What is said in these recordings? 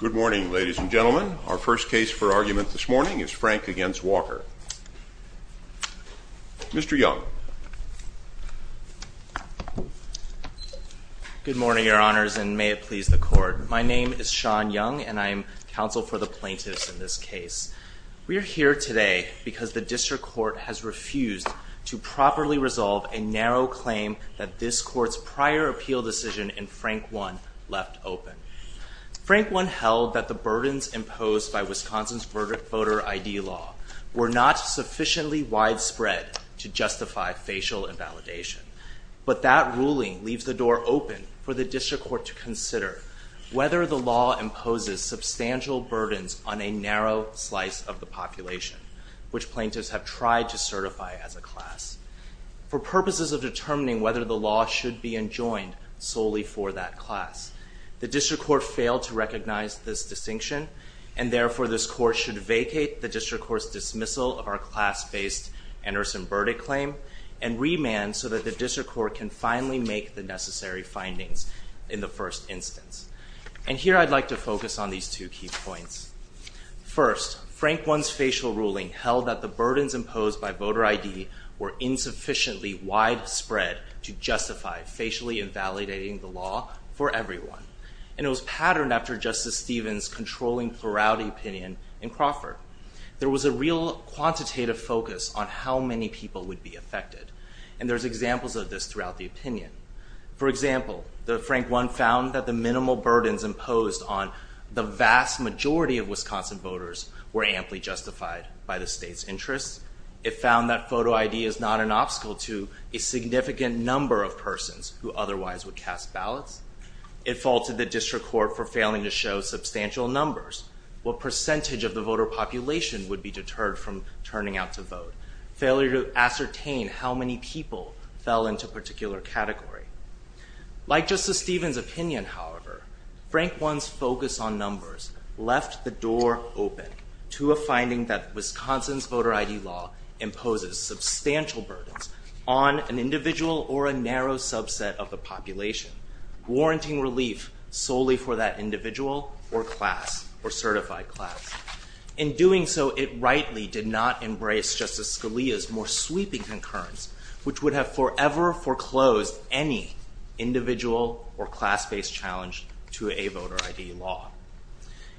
Good morning, ladies and gentlemen. Our first case for argument this morning is Frank v. Walker. Mr. Young. Good morning, Your Honors, and may it please the Court. My name is Sean Young, and I am counsel for the plaintiffs in this case. We are here today because the District Court has refused to properly resolve a narrow claim that this Court's prior appeal decision in Frank 1 left open. Frank 1 held that the burdens imposed by Wisconsin's voter ID law were not sufficiently widespread to justify facial invalidation. But that ruling leaves the door open for the District Court to consider whether the law imposes substantial burdens on a narrow slice of the population, for purposes of determining whether the law should be enjoined solely for that class. The District Court failed to recognize this distinction, and therefore this Court should vacate the District Court's dismissal of our class-based and arson verdict claim and remand so that the District Court can finally make the necessary findings in the first instance. And here I'd like to focus on these two key points. First, Frank 1's facial ruling held that the burdens imposed by voter ID were insufficiently widespread to justify facially invalidating the law for everyone. And it was patterned after Justice Stevens' controlling plurality opinion in Crawford. There was a real quantitative focus on how many people would be affected, For example, Frank 1 found that the minimal burdens imposed on the vast majority of Wisconsin voters were amply justified by the state's interests. It found that photo ID is not an obstacle to a significant number of persons who otherwise would cast ballots. It faulted the District Court for failing to show substantial numbers. What percentage of the voter population would be deterred from turning out to vote? Failure to ascertain how many people fell into a particular category. Like Justice Stevens' opinion, however, Frank 1's focus on numbers left the door open to a finding that Wisconsin's voter ID law imposes substantial burdens on an individual or a narrow subset of the population, warranting relief solely for that individual or class or certified class. In doing so, it rightly did not embrace Justice Scalia's more sweeping concurrence, which would have forever foreclosed any individual or class-based challenge to a voter ID law.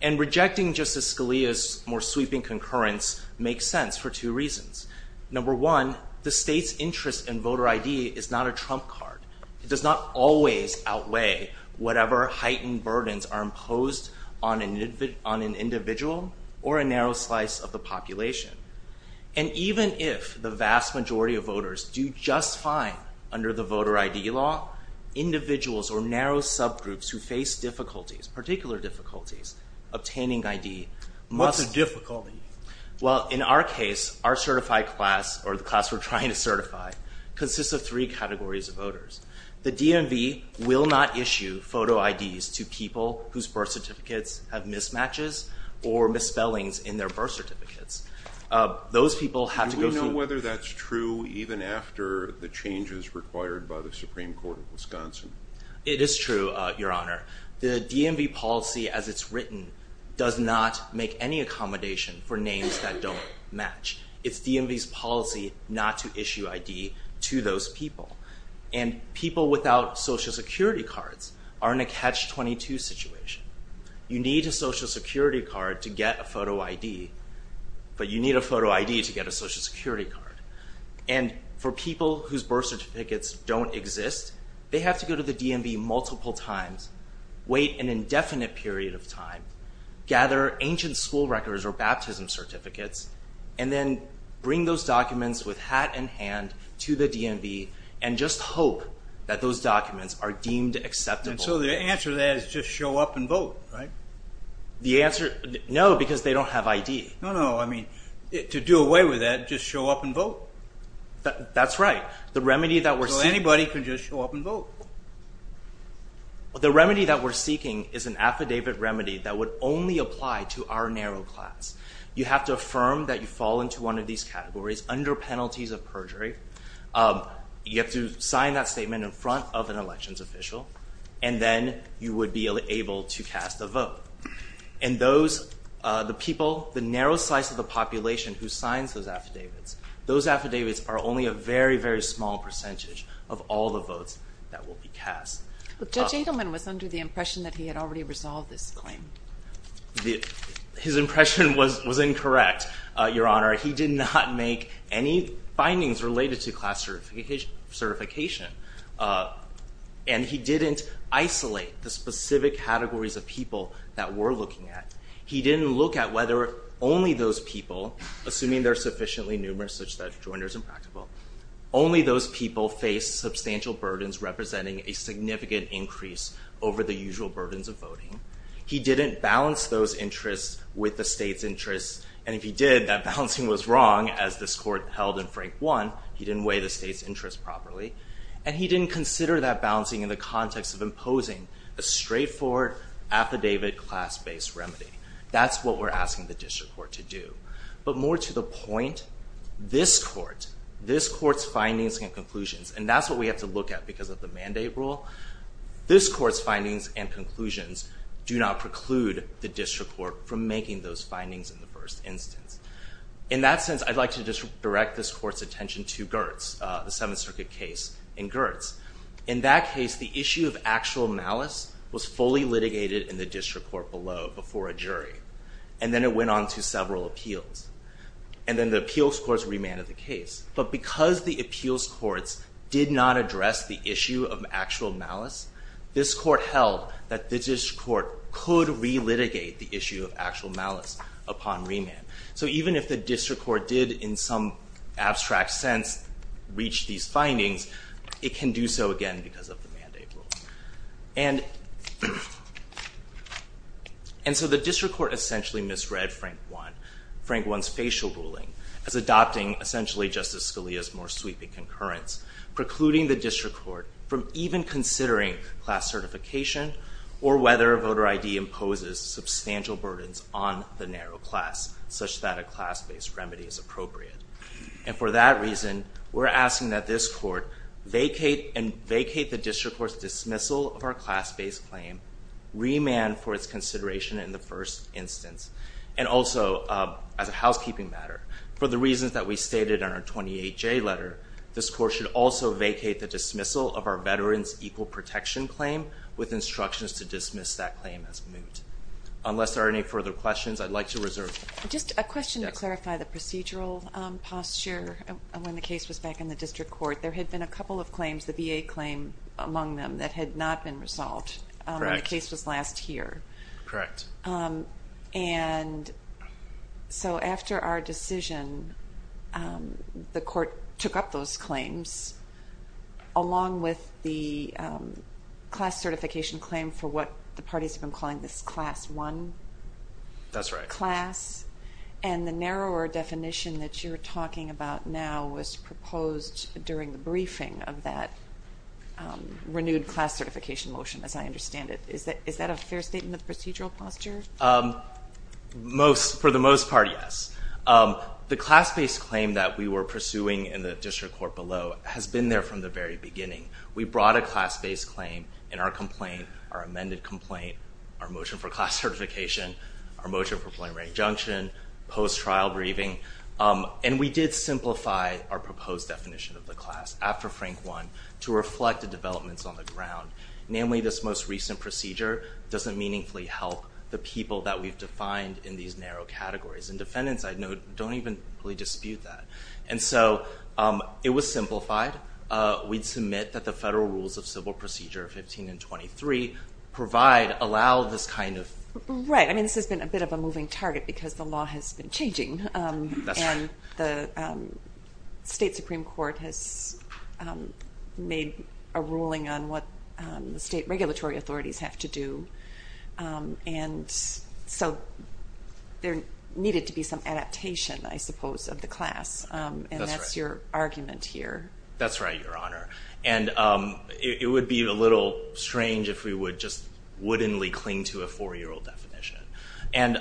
And rejecting Justice Scalia's more sweeping concurrence makes sense for two reasons. Number one, the state's interest in voter ID is not a trump card. It does not always outweigh whatever heightened burdens are imposed on an individual or a narrow slice of the population. And even if the vast majority of voters do just fine under the voter ID law, individuals or narrow subgroups who face difficulties, particular difficulties, obtaining ID must... What's a difficulty? Well, in our case, our certified class, or the class we're trying to certify, consists of three categories of voters. The DMV will not issue photo IDs to people whose birth certificates have mismatches or misspellings in their birth certificates. Those people have to go through... Do we know whether that's true even after the changes required by the Supreme Court of Wisconsin? It is true, Your Honor. The DMV policy as it's written does not make any accommodation for names that don't match. It's DMV's policy not to issue ID to those people. And people without Social Security cards are in a catch-22 situation. You need a Social Security card to get a photo ID, but you need a photo ID to get a Social Security card. And for people whose birth certificates don't exist, they have to go to the DMV multiple times, wait an indefinite period of time, gather ancient school records or baptism certificates, and then bring those documents with hat in hand to the DMV and just hope that those documents are deemed acceptable. And so the answer to that is just show up and vote, right? The answer... No, because they don't have ID. No, no, I mean, to do away with that, just show up and vote. That's right. The remedy that we're seeking... So anybody can just show up and vote. The remedy that we're seeking is an affidavit remedy that would only apply to our narrow class. You have to affirm that you fall into one of these categories under penalties of perjury. You have to sign that statement in front of an elections official, and then you would be able to cast a vote. And those, the people, the narrow size of the population who signs those affidavits, those affidavits are only a very, very small percentage of all the votes that will be cast. Judge Adelman was under the impression that he had already resolved this claim. His impression was incorrect, Your Honor. He did not make any findings related to class certification, and he didn't isolate the specific categories of people that we're looking at. He didn't look at whether only those people, assuming they're sufficiently numerous such that Joiner's impractical, only those people face substantial burdens representing a significant increase over the usual burdens of voting. He didn't balance those interests with the state's interests, and if he did, that balancing was wrong, as this court held in Frank 1. He didn't weigh the state's interests properly, and he didn't consider that balancing in the context of imposing a straightforward affidavit class-based remedy. That's what we're asking the district court to do. But more to the point, this court, this court's findings and conclusions, and that's what we have to look at because of the mandate rule. This court's findings and conclusions do not preclude the district court from making those findings in the first instance. In that sense, I'd like to direct this court's attention to Gertz, the Seventh Circuit case in Gertz. In that case, the issue of actual malice was fully litigated in the district court below before a jury, and then it went on to several appeals, and then the appeals courts remanded the case. But because the appeals courts did not address the issue of actual malice, this court held that the district court could relitigate the issue of actual malice upon remand. So even if the district court did, in some abstract sense, reach these findings, it can do so again because of the mandate rule. And so the district court essentially misread Frank 1, Frank 1's facial ruling, as adopting essentially Justice Scalia's more sweeping concurrence, precluding the district court from even considering class certification or whether a voter ID imposes substantial burdens on the narrow class, such that a class-based remedy is appropriate. And for that reason, we're asking that this court vacate the district court's dismissal of our class-based claim, remand for its consideration in the first instance, and also as a housekeeping matter. For the reasons that we stated in our 28J letter, this court should also vacate the dismissal of our veterans' equal protection claim with instructions to dismiss that claim as moot. Unless there are any further questions, I'd like to reserve. Just a question to clarify the procedural posture. When the case was back in the district court, there had been a couple of claims, the VA claim among them, that had not been resolved when the case was last here. Correct. And so after our decision, the court took up those claims, along with the class certification claim for what the parties have been calling this Class I class. That's right. And the narrower definition that you're talking about now was proposed during the briefing of that renewed class certification motion, as I understand it. Is that a fair statement of procedural posture? For the most part, yes. The class-based claim that we were pursuing in the district court below has been there from the very beginning. We brought a class-based claim in our complaint, our amended complaint, our motion for class certification, our motion for preliminary injunction, post-trial briefing, and we did simplify our proposed definition of the class after Frank I to reflect the developments on the ground, namely this most recent procedure doesn't meaningfully help the people that we've defined in these narrow categories. And defendants, I note, don't even really dispute that. And so it was simplified. We'd submit that the federal rules of civil procedure 15 and 23 provide, allow this kind of... Right. I mean, this has been a bit of a moving target because the law has been changing. That's right. The state supreme court has made a ruling on what the state regulatory authorities have to do. And so there needed to be some adaptation, I suppose, of the class. And that's your argument here. That's right, Your Honor. And it would be a little strange if we would just wouldn't cling to a four-year-old definition. And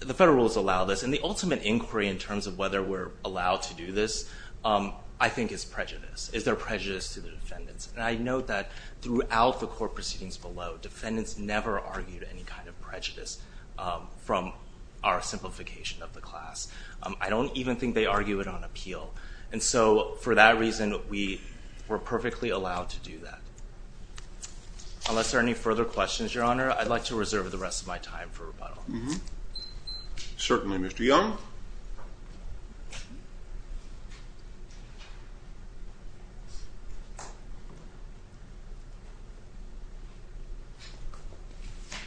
the federal rules allow this. And the ultimate inquiry in terms of whether we're allowed to do this, I think, is prejudice. Is there prejudice to the defendants? And I note that throughout the court proceedings below, defendants never argued any kind of prejudice from our simplification of the class. I don't even think they argue it on appeal. And so for that reason, we're perfectly allowed to do that. Unless there are any further questions, Your Honor, I'd like to reserve the rest of my time for rebuttal. Certainly, Mr. Young.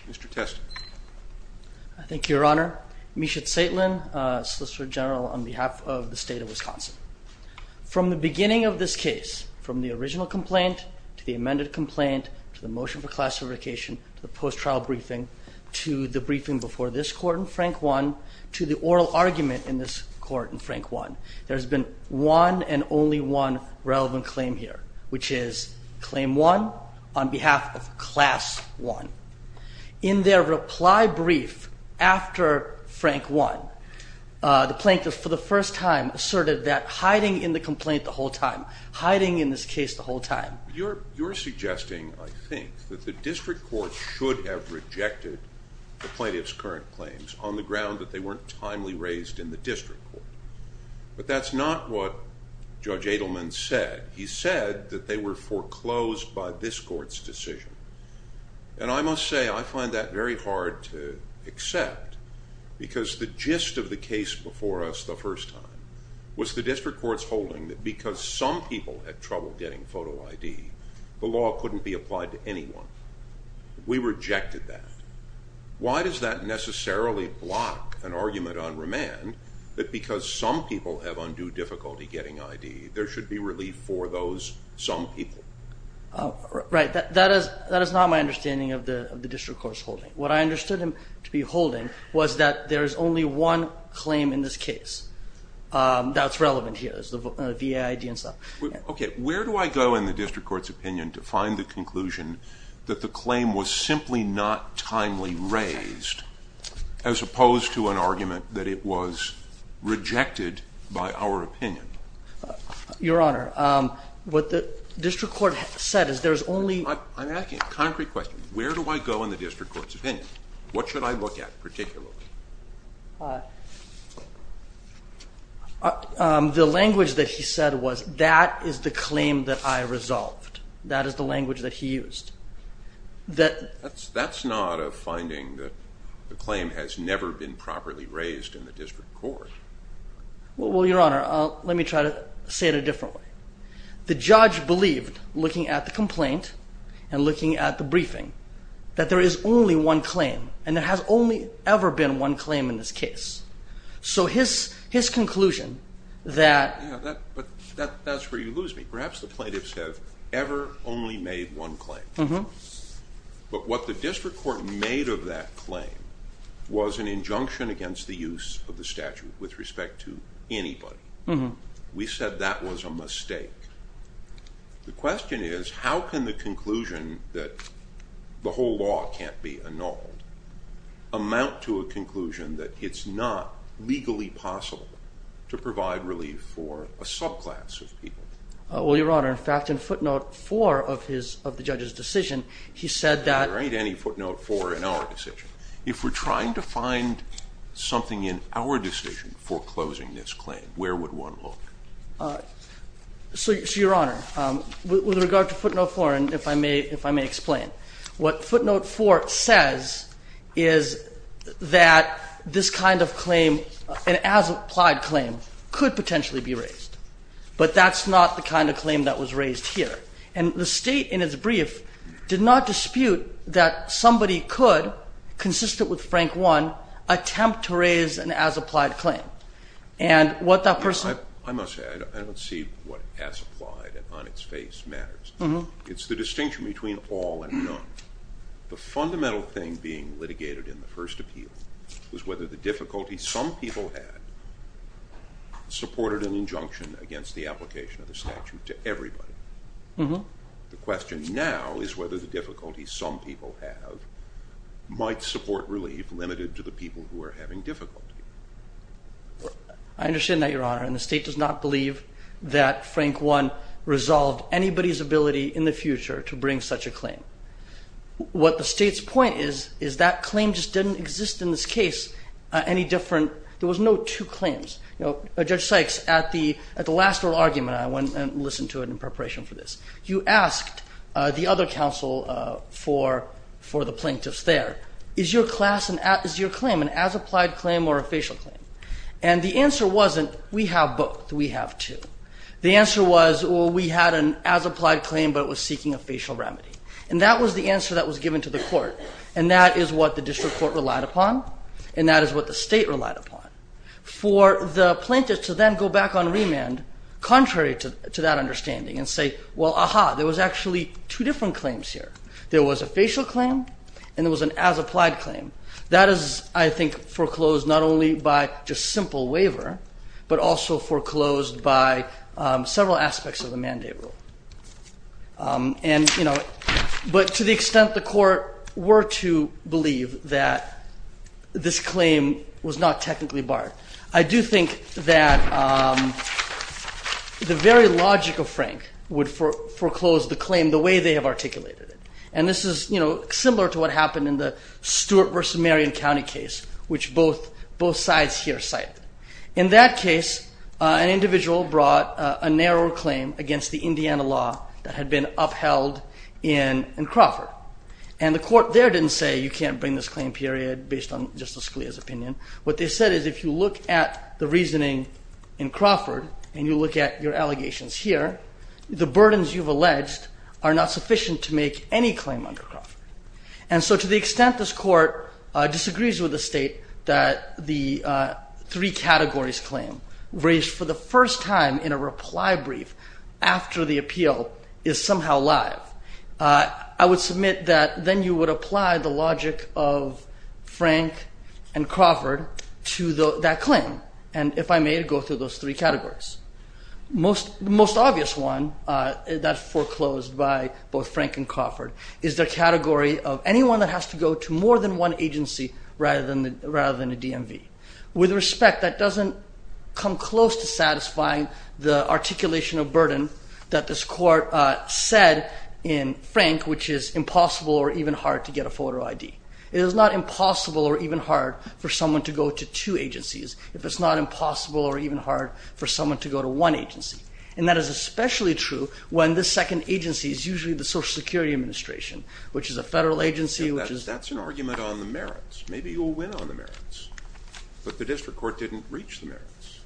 Mr. Test. Thank you, Your Honor. Meshach Zaitlin, Solicitor General on behalf of the state of Wisconsin. From the beginning of this case, from the original complaint to the amended complaint, to the motion for classification, to the post-trial briefing, to the briefing before this court in Frank 1, to the oral argument in this court in Frank 1, there's been one and only one relevant claim here, which is claim 1 on behalf of class 1. In their reply brief after Frank 1, the plaintiff for the first time asserted that hiding in the complaint the whole time, hiding in this case the whole time. Now, you're suggesting, I think, that the district court should have rejected the plaintiff's current claims on the ground that they weren't timely raised in the district court. But that's not what Judge Adelman said. He said that they were foreclosed by this court's decision. And I must say, I find that very hard to accept, because the gist of the case before us the first time was the district court's holding that because some people had trouble getting photo ID, the law couldn't be applied to anyone. We rejected that. Why does that necessarily block an argument on remand that because some people have undue difficulty getting ID, there should be relief for those some people? Right. That is not my understanding of the district court's holding. What I understood them to be holding was that there is only one claim in this case that's relevant here is the VA ID and stuff. Okay. Where do I go in the district court's opinion to find the conclusion that the claim was simply not timely raised as opposed to an argument that it was rejected by our opinion? Your Honor, what the district court said is there's only – I'm asking a concrete question. Where do I go in the district court's opinion? What should I look at particularly? The language that he said was that is the claim that I resolved. That is the language that he used. That's not a finding that the claim has never been properly raised in the district court. Well, Your Honor, let me try to say it a different way. The judge believed, looking at the complaint and looking at the briefing, that there is only one claim and there has only ever been one claim in this case. So his conclusion that – Yeah, but that's where you lose me. Perhaps the plaintiffs have ever only made one claim. But what the district court made of that claim was an injunction against the use of the statute with respect to anybody. We said that was a mistake. The question is, how can the conclusion that the whole law can't be annulled amount to a conclusion that it's not legally possible to provide relief for a subclass of people? Well, Your Honor, in fact, in footnote four of the judge's decision, he said that – There ain't any footnote four in our decision. If we're trying to find something in our decision foreclosing this claim, where would one look? So, Your Honor, with regard to footnote four, and if I may explain, what footnote four says is that this kind of claim, an as-applied claim, could potentially be raised. But that's not the kind of claim that was raised here. And the State, in its brief, did not dispute that somebody could, consistent with Frank 1, attempt to raise an as-applied claim. And what that person – I must say, I don't see what as-applied and on-its-face matters. It's the distinction between all and none. The fundamental thing being litigated in the first appeal was whether the difficulty some people had supported an injunction against the application of the statute to everybody. The question now is whether the difficulty some people have might support relief limited to the people who are having difficulty. I understand that, Your Honor. And the State does not believe that Frank 1 resolved anybody's ability in the future to bring such a claim. What the State's point is, is that claim just didn't exist in this case any different – there was no two claims. Judge Sykes, at the last oral argument, I went and listened to it in preparation for this, you asked the other counsel for the plaintiffs there, is your claim an as-applied claim or a facial claim? And the answer wasn't, we have both, we have two. The answer was, well, we had an as-applied claim, but it was seeking a facial remedy. And that was the answer that was given to the Court, and that is what the District Court relied upon, and that is what the State relied upon. For the plaintiffs to then go back on remand, contrary to that understanding, and say, well, ah-ha, there was actually two different claims here. There was a facial claim, and there was an as-applied claim. That is, I think, foreclosed not only by just simple waiver, but also foreclosed by several aspects of the mandate rule. And, you know, but to the extent the Court were to believe that this claim was not technically barred. I do think that the very logic of Frank would foreclose the claim in the way they have articulated it. And this is, you know, similar to what happened in the Stewart v. Marion County case, which both sides here cited. In that case, an individual brought a narrower claim against the Indiana law that had been upheld in Crawford. And the Court there didn't say, you can't bring this claim period based on Justice Scalia's opinion. What they said is, if you look at the reasoning in Crawford and you look at your allegations here, the burdens you've alleged are not sufficient to make any claim under Crawford. And so to the extent this Court disagrees with the State that the three categories claim raised for the first time in a reply brief after the appeal is somehow live, I would submit that then you would apply the logic of Frank and Crawford to that claim. And if I may, to go through those three categories. The most obvious one that foreclosed by both Frank and Crawford is their category of anyone that has to go to more than one agency rather than a DMV. With respect, that doesn't come close to satisfying the articulation of burden that this Court said in Frank, which is impossible or even hard to get a photo ID. It is not impossible or even hard for someone to go to two agencies if it's not impossible or even hard for someone to go to one agency. And that is especially true when the second agency is usually the Social Security Administration, which is a Federal agency, which is... That's an argument on the merits. Maybe you'll win on the merits. But the district court didn't reach the merits.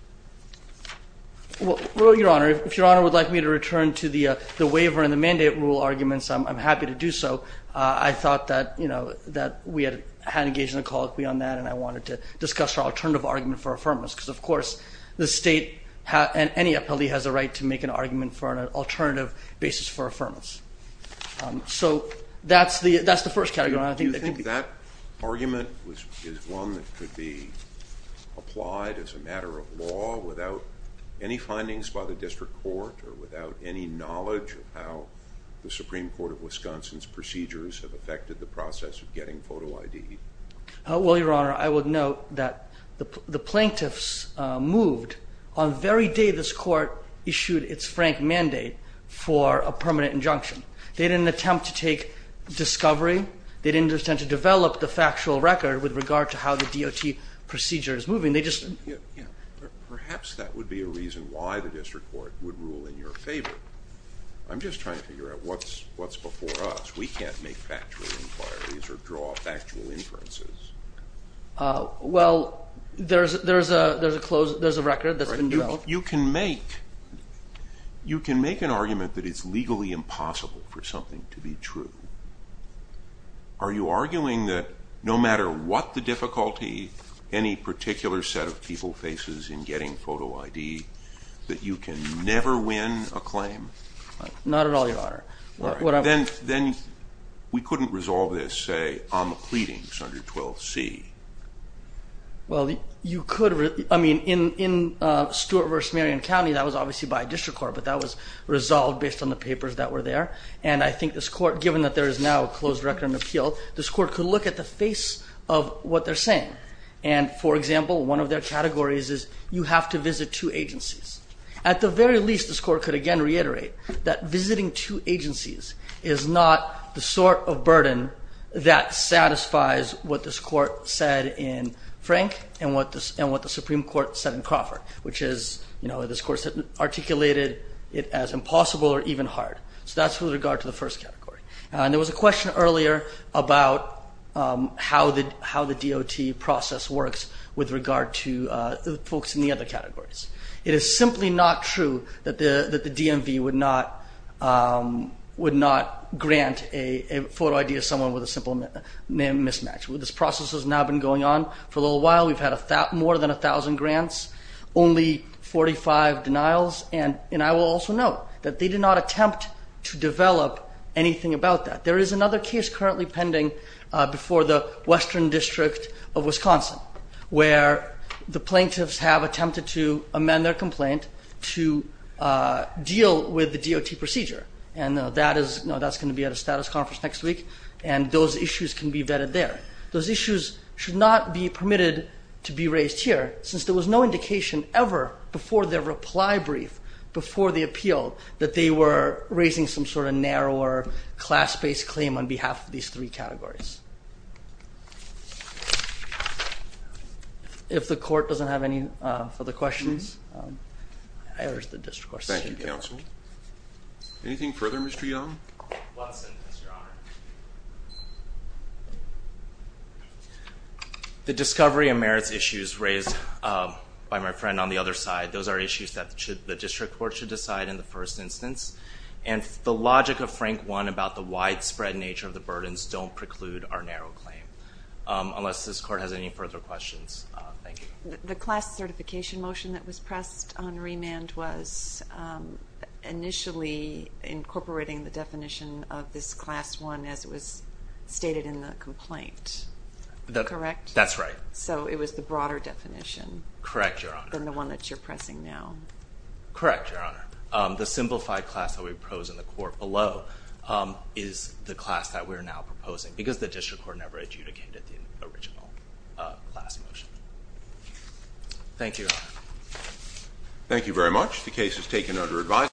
Well, Your Honor, if Your Honor would like me to return to the waiver and the mandate rule arguments, I'm happy to do so. I thought that, you know, that we had engaged in a call beyond that and I wanted to discuss our alternative argument for affirmance because, of course, the state and any appellee has a right to make an argument for an alternative basis for affirmance. So that's the first category. Do you think that argument is one that could be applied as a matter of law without any findings by the district court or without any knowledge of how the Supreme Court of Wisconsin's procedures have affected the process of getting photo ID? Well, Your Honor, I would note that the plaintiffs moved on the very day this court issued its frank mandate for a permanent injunction. They didn't attempt to take discovery. They didn't attempt to develop the factual record with regard to how the DOT procedure is moving. They just... Perhaps that would be a reason why the district court would rule in your favor. I'm just trying to figure out what's before us. We can't make factual inquiries or draw factual inferences. Well, there's a record that's been developed. You can make an argument that it's legally impossible for something to be true. Are you arguing that no matter what the difficulty any particular set of people faces in getting photo ID, that you can never win a claim? Not at all, Your Honor. Then we couldn't resolve this, say, on the pleadings under 12C. Well, you could. I mean, in Stewart v. Marion County, that was obviously by a district court, but that was resolved based on the papers that were there. And I think this court, given that there is now a closed record and appeal, this court could look at the face of what they're saying. And, for example, one of their categories is you have to visit two agencies. At the very least, this court could again reiterate that visiting two agencies is not the sort of burden that satisfies what this court said in Frank and what the Supreme Court said in Crawford, which is this court articulated it as impossible or even hard. So that's with regard to the first category. And there was a question earlier about how the DOT process works with regard to the folks in the other categories. It is simply not true that the DMV would not grant a photo ID to someone with a simple mismatch. This process has now been going on for a little while. We've had more than 1,000 grants, only 45 denials. And I will also note that they did not attempt to develop anything about that. There is another case currently pending before the Western District of Wisconsin where the plaintiffs have attempted to amend their complaint to deal with the DOT procedure. And that's going to be at a status conference next week, and those issues can be vetted there. Those issues should not be permitted to be raised here since there was no indication ever before their reply brief, before the appeal, that they were raising some sort of narrower, class-based claim on behalf of these three categories. If the court doesn't have any further questions, I urge the district court session to be adjourned. Thank you, counsel. Anything further, Mr. Young? One sentence, Your Honor. The discovery and merits issues raised by my friend on the other side, those are issues that the district court should decide in the first instance. And the logic of Frank 1 about the widespread nature of the burdens don't preclude our narrow claim, unless this court has any further questions. Thank you. The class certification motion that was pressed on remand was initially incorporating the definition of this class 1 as it was stated in the complaint, correct? That's right. So it was the broader definition than the one that you're pressing now. Correct, Your Honor. The simplified class that we propose in the court below is the class that we're now proposing because the district court never adjudicated the original class motion. Thank you, Your Honor. Thank you very much. The case is taken under advisory.